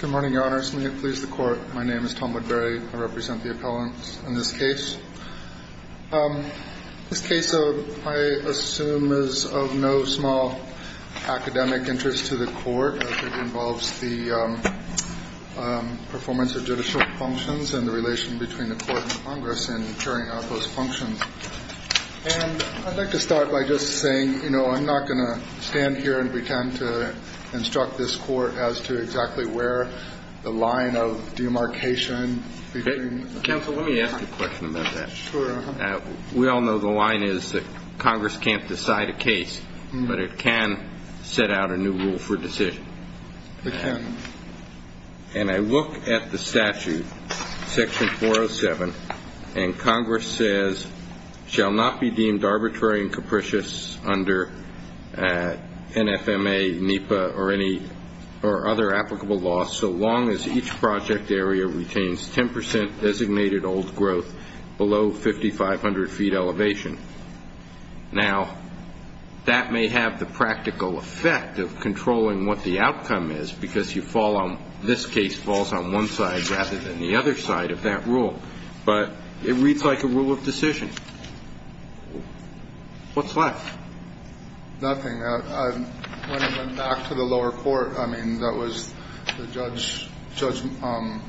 Good morning, Your Honors. May it please the Court, my name is Tom Woodbury. I represent the appellants in this case. This case, I assume, is of no small academic interest to the Court as it involves the performance of judicial functions and the relation between the Court and Congress in carrying out those functions. And I'd like to start by just saying, you know, I'm not going to stand here and pretend to instruct this Court as to exactly where the line of demarcation between... Counsel, let me ask you a question about that. Sure. We all know the line is that Congress can't decide a case, but it can set out a new rule for decision. It can. And I look at the statute, section 407, and Congress says, shall not be deemed arbitrary and capricious under NFMA, NEPA, or any other applicable law so long as each project area retains 10% designated old growth below 5,500 feet elevation. Now, that may have the practical effect of controlling what the outcome is because you fall on... This case falls on one side rather than the other side of that rule. But it reads like a rule of decision. What's left? Nothing. When I went back to the lower court, I mean, that was... Judge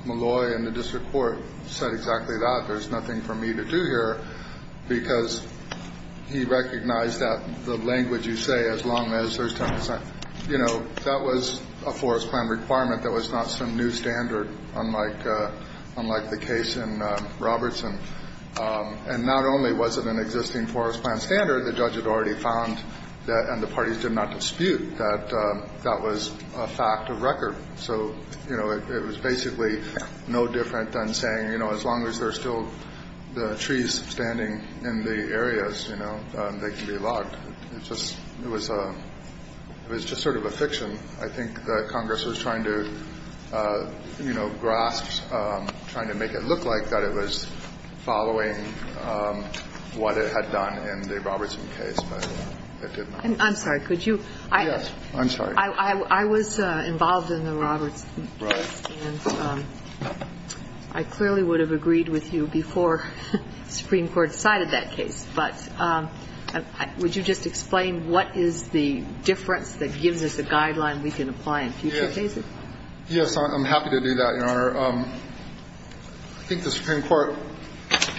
Malloy in the district court said exactly that. There's nothing for me to do here because he recognized that the language you say, as long as there's 10%... You know, that was a forest plan requirement. That was not some new standard, unlike the case in Robertson. And not only was it an existing forest plan standard, the judge had already found that, and the parties did not dispute, that that was a fact of record. So, you know, it was basically no different than saying, you know, as long as there's still the trees standing in the areas, you know, they can be logged. It was just sort of a fiction. I think that Congress was trying to, you know, grasp, trying to make it look like that it was following what it had done in the Robertson case, but it did not. I'm sorry. Could you... I'm sorry. I was involved in the Robertson case, and I clearly would have agreed with you before the Supreme Court decided that case. But would you just explain what is the difference that gives us a guideline we can apply in future cases? Yes, I'm happy to do that, Your Honor. I think the Supreme Court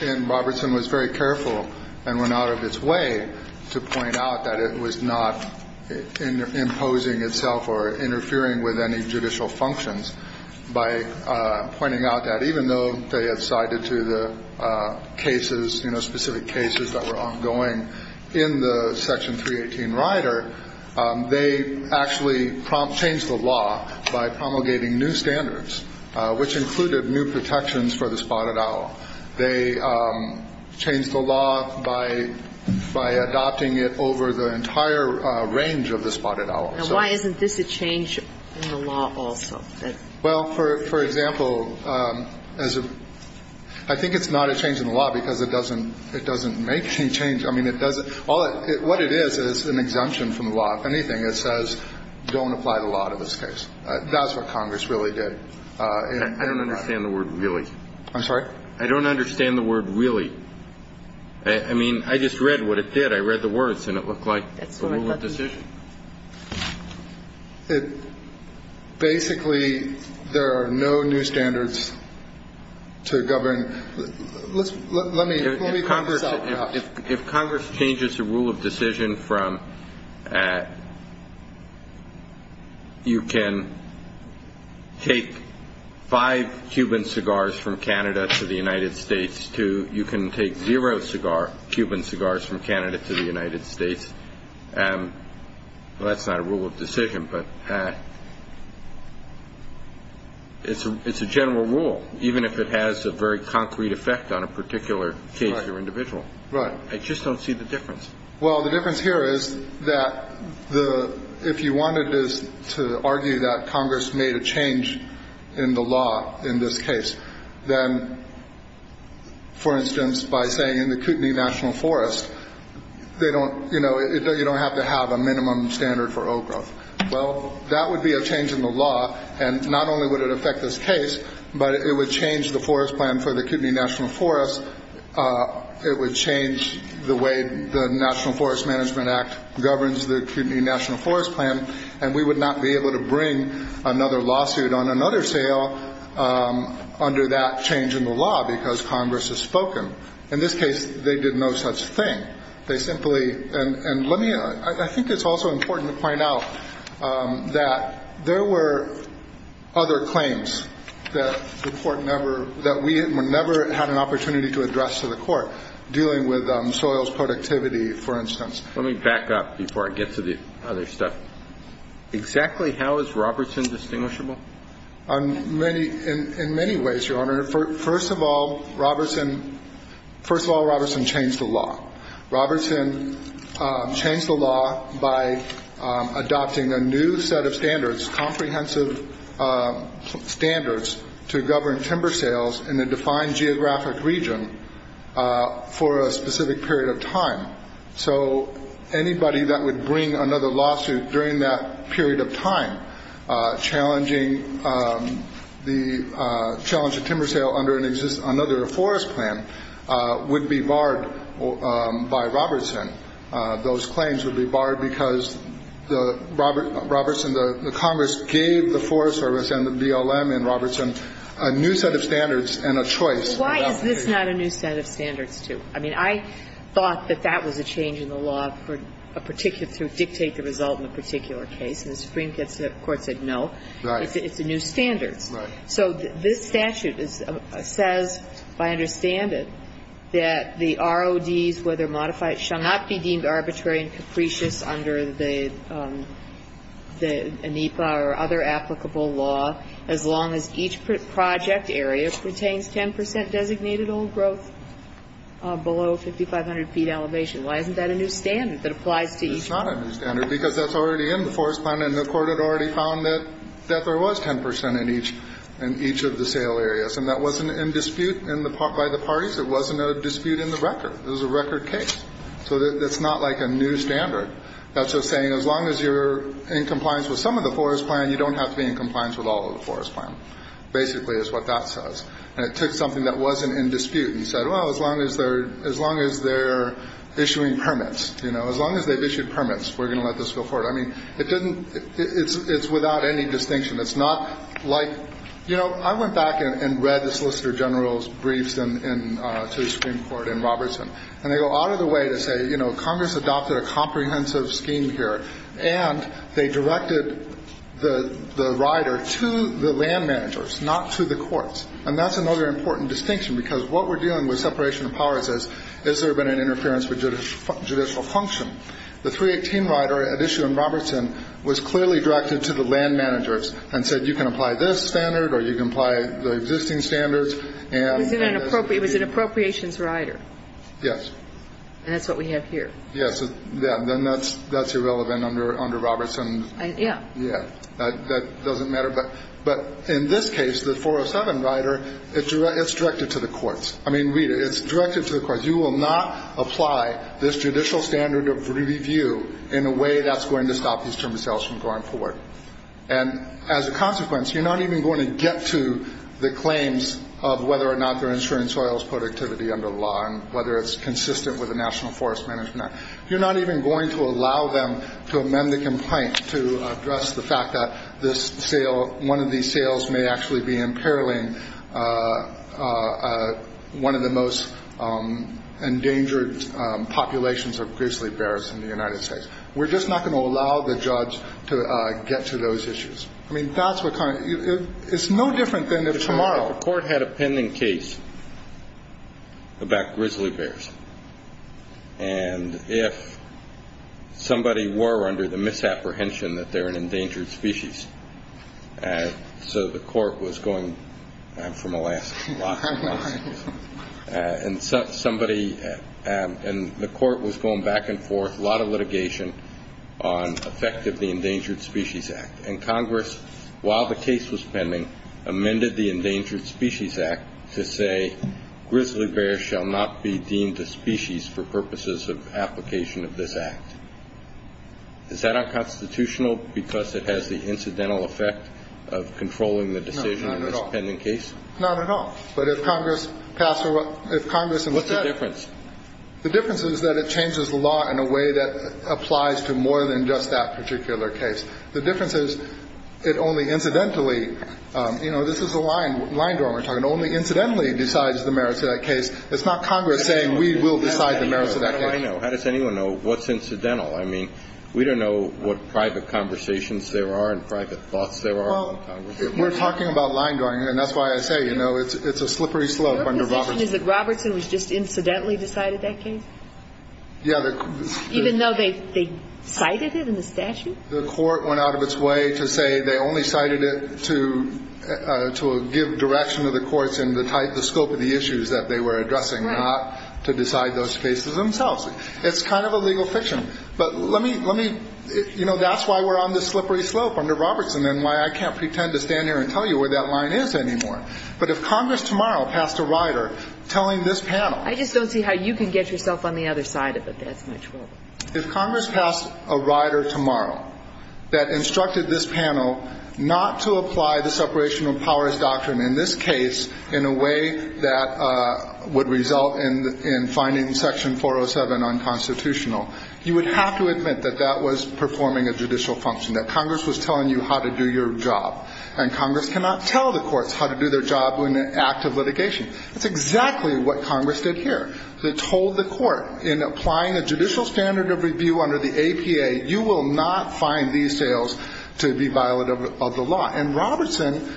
in Robertson was very careful and went out of its way to point out that it was not imposing itself or interfering with any judicial functions. By pointing out that even though they had sided to the cases, you know, specific cases that were ongoing in the Section 318 rider, they actually changed the law by promulgating new standards, which included new protections for the spotted owl. They changed the law by adopting it over the entire range of the spotted owl. And why isn't this a change in the law also? Well, for example, I think it's not a change in the law because it doesn't make any change. I mean, it doesn't. What it is is an exemption from the law. If anything, it says don't apply the law to this case. That's what Congress really did. I don't understand the word really. I'm sorry? I don't understand the word really. I mean, I just read what it did. I read the words, and it looked like a rule of decision. Basically, there are no new standards to govern. If Congress changes the rule of decision from you can take five Cuban cigars from Canada to the United States to you can take zero Cuban cigars from Canada to the United States, well, that's not a rule of decision. But it's a general rule, even if it has a very concrete effect on a particular case or individual. Right. I just don't see the difference. Well, the difference here is that if you wanted to argue that Congress made a change in the law in this case, then, for instance, by saying in the Kootenai National Forest, you don't have to have a minimum standard for old growth. Well, that would be a change in the law, and not only would it affect this case, but it would change the forest plan for the Kootenai National Forest. It would change the way the National Forest Management Act governs the Kootenai National Forest Plan, and we would not be able to bring another lawsuit on another sale under that change in the law because Congress has spoken. In this case, they did no such thing. They simply – and let me – I think it's also important to point out that there were other claims that the court never – that we never had an opportunity to address to the court dealing with soils productivity, for instance. Let me back up before I get to the other stuff. Exactly how is Robertson distinguishable? In many ways, Your Honor. First of all, Robertson – first of all, Robertson changed the law. Robertson changed the law by adopting a new set of standards, comprehensive standards to govern timber sales in a defined geographic region for a specific period of time. So anybody that would bring another lawsuit during that period of time challenging the – challenging timber sale under another forest plan would be barred by Robertson. Those claims would be barred because Robertson – the Congress gave the Forest Service and the BLM and Robertson a new set of standards and a choice. Why is this not a new set of standards, too? I mean, I thought that that was a change in the law for a particular – to dictate the result in a particular case. And the Supreme Court said no. Right. It's a new standard. Right. So this statute says, if I understand it, that the RODs, whether modified, shall not be deemed arbitrary and capricious under the ANIPA or other applicable law as long as each project area pertains 10 percent designated old growth below 5,500 feet elevation. Why isn't that a new standard that applies to each one? It's not a new standard because that's already in the forest plan, and the Court had already found that there was 10 percent in each of the sale areas. And that wasn't in dispute by the parties. It wasn't a dispute in the record. It was a record case. So that's not like a new standard. That's just saying as long as you're in compliance with some of the forest plan, you don't have to be in compliance with all of the forest plan, basically, is what that says. And it took something that wasn't in dispute and said, well, as long as they're – as long as they're issuing permits, you know, as long as they've issued permits, we're going to let this go forward. I mean, it doesn't – it's without any distinction. It's not like – you know, I went back and read the Solicitor General's briefs to the Supreme Court in Robertson, and they go out of the way to say, you know, Congress adopted a comprehensive scheme here, and they directed the rider to the land managers, not to the courts. And that's another important distinction, because what we're dealing with separation of powers is, has there been an interference with judicial function? The 318 rider at issue in Robertson was clearly directed to the land managers and said you can apply this standard or you can apply the existing standards. It was an appropriations rider. Yes. And that's what we have here. Yes. Then that's irrelevant under Robertson. Yeah. Yeah. That doesn't matter. But in this case, the 407 rider, it's directed to the courts. I mean, read it. It's directed to the courts. You will not apply this judicial standard of review in a way that's going to stop these timber sales from going forward. And as a consequence, you're not even going to get to the claims of whether or not they're ensuring soils productivity under the law and whether it's consistent with the National Forest Management Act. You're not even going to allow them to amend the complaint to address the fact that this sale, one of these sales may actually be imperiling one of the most endangered populations of grizzly bears in the United States. We're just not going to allow the judge to get to those issues. I mean, that's what kind of ‑‑ it's no different than if tomorrow. The court had a pending case about grizzly bears. And if somebody were under the misapprehension that they're an endangered species, so the court was going from Alaska to Alaska. And somebody ‑‑ and the court was going back and forth, a lot of litigation on effect of the Endangered Species Act. And Congress, while the case was pending, amended the Endangered Species Act to say grizzly bears shall not be deemed a species for purposes of application of this act. Is that unconstitutional because it has the incidental effect of controlling the decision in this pending case? Not at all. But if Congress passed a ‑‑ if Congress ‑‑ What's the difference? The difference is that it changes the law in a way that applies to more than just that particular case. The difference is it only incidentally, you know, this is the line drawing we're talking, only incidentally decides the merits of that case. It's not Congress saying we will decide the merits of that case. How does anyone know what's incidental? I mean, we don't know what private conversations there are and private thoughts there are in Congress. We're talking about line drawing, and that's why I say, you know, it's a slippery slope under Robertson. Your position is that Robertson was just incidentally decided that case? Yeah. Even though they cited it in the statute? The court went out of its way to say they only cited it to give direction to the courts in the scope of the issues that they were addressing, not to decide those cases themselves. It's kind of a legal fiction. But let me ‑‑ you know, that's why we're on this slippery slope under Robertson and why I can't pretend to stand here and tell you where that line is anymore. But if Congress tomorrow passed a rider telling this panel ‑‑ I just don't see how you can get yourself on the other side of it. That's my trouble. If Congress passed a rider tomorrow that instructed this panel not to apply the separation of powers doctrine in this case in a way that would result in finding Section 407 unconstitutional, you would have to admit that that was performing a judicial function, that Congress was telling you how to do your job. And Congress cannot tell the courts how to do their job in an act of litigation. That's exactly what Congress did here. They told the court, in applying a judicial standard of review under the APA, you will not find these sales to be violent of the law. And Robertson,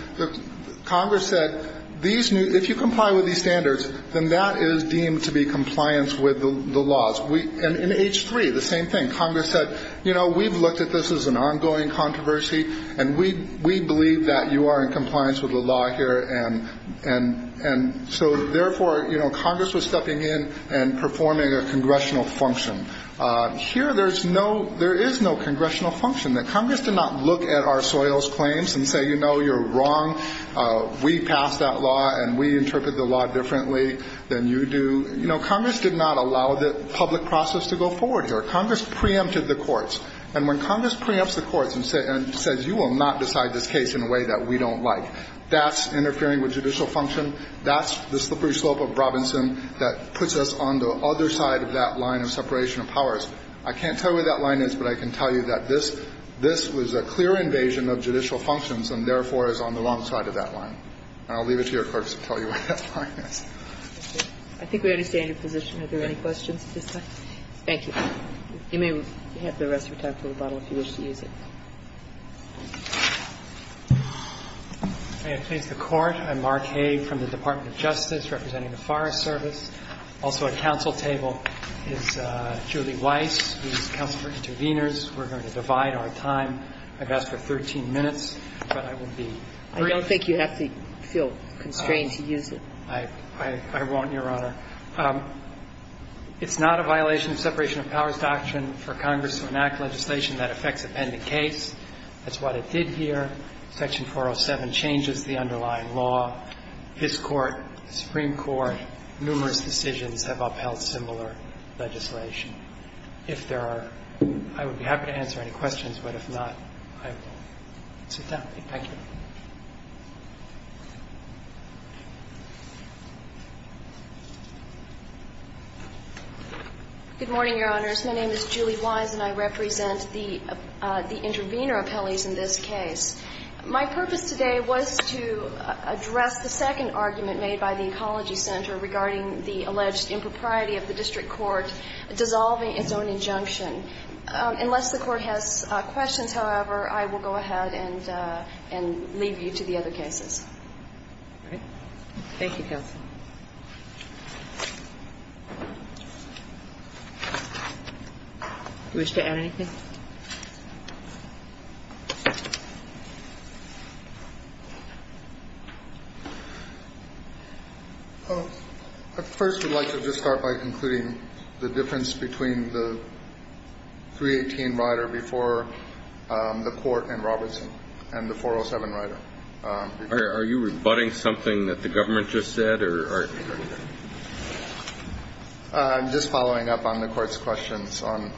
Congress said, if you comply with these standards, then that is deemed to be compliance with the laws. And in H3, the same thing. Congress said, you know, we've looked at this as an ongoing controversy, and we believe that you are in compliance with the law here. And so, therefore, you know, Congress was stepping in and performing a congressional function. Here there is no congressional function. Congress did not look at our soils claims and say, you know, you're wrong. We passed that law, and we interpret the law differently than you do. You know, Congress did not allow the public process to go forward here. Congress preempted the courts. And when Congress preempts the courts and says, you will not decide this case in a way that we don't like, that's interfering with judicial function, that's the slippery slope of Robertson that puts us on the other side of that line of separation of powers. I can't tell you where that line is, but I can tell you that this was a clear invasion of judicial functions and, therefore, is on the wrong side of that line. And I'll leave it to your courts to tell you where that line is. I think we understand your position. Are there any questions at this time? Thank you. You may have the rest of your time for the bottle if you wish to use it. May I please have the Court? I'm Mark Hay from the Department of Justice representing the Forest Service. Also at counsel table is Julie Weiss, who is counsel for interveners. We're going to divide our time. I've asked for 13 minutes, but I will be brief. I don't think you have to feel constrained to use it. I won't, Your Honor. It's not a violation of separation of powers doctrine for Congress to enact legislation that affects a pending case. That's what it did here. Section 407 changes the underlying law. This Court, the Supreme Court, numerous decisions have upheld similar legislation. If there are – I would be happy to answer any questions, but if not, I will sit down. Thank you. Good morning, Your Honors. My name is Julie Weiss, and I represent the intervener appellees in this case. My purpose today was to address the second argument made by the Ecology Center regarding the alleged impropriety of the district court dissolving its own injunction. Unless the Court has questions, however, I will go ahead and leave you to the other cases. All right. Thank you, counsel. Do you wish to add anything? I first would like to just start by concluding the difference between the 318 rider before the court and Robertson and the 407 rider. Are you rebutting something that the government just said? I'm just following up on the Court's questions on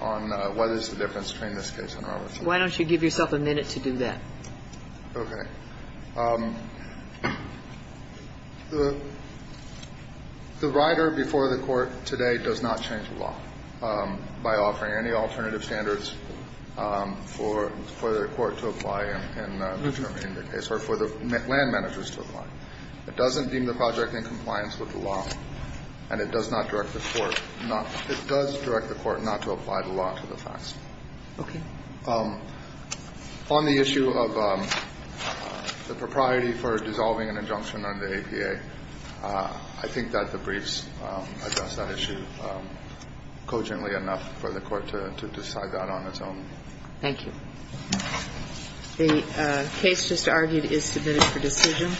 whether there's a difference between this case and Robertson. Why don't you give yourself a minute to do that? Okay. The rider before the court today does not change the law by offering any alternative standards for the court to apply in determining the case or for the land managers to apply. It doesn't deem the project in compliance with the law, and it does not direct the court not to apply the law to the facts. Okay. On the issue of the propriety for dissolving an injunction under APA, I think that the briefs address that issue cogently enough for the court to decide that on its own. Thank you. The case just argued is submitted for decision.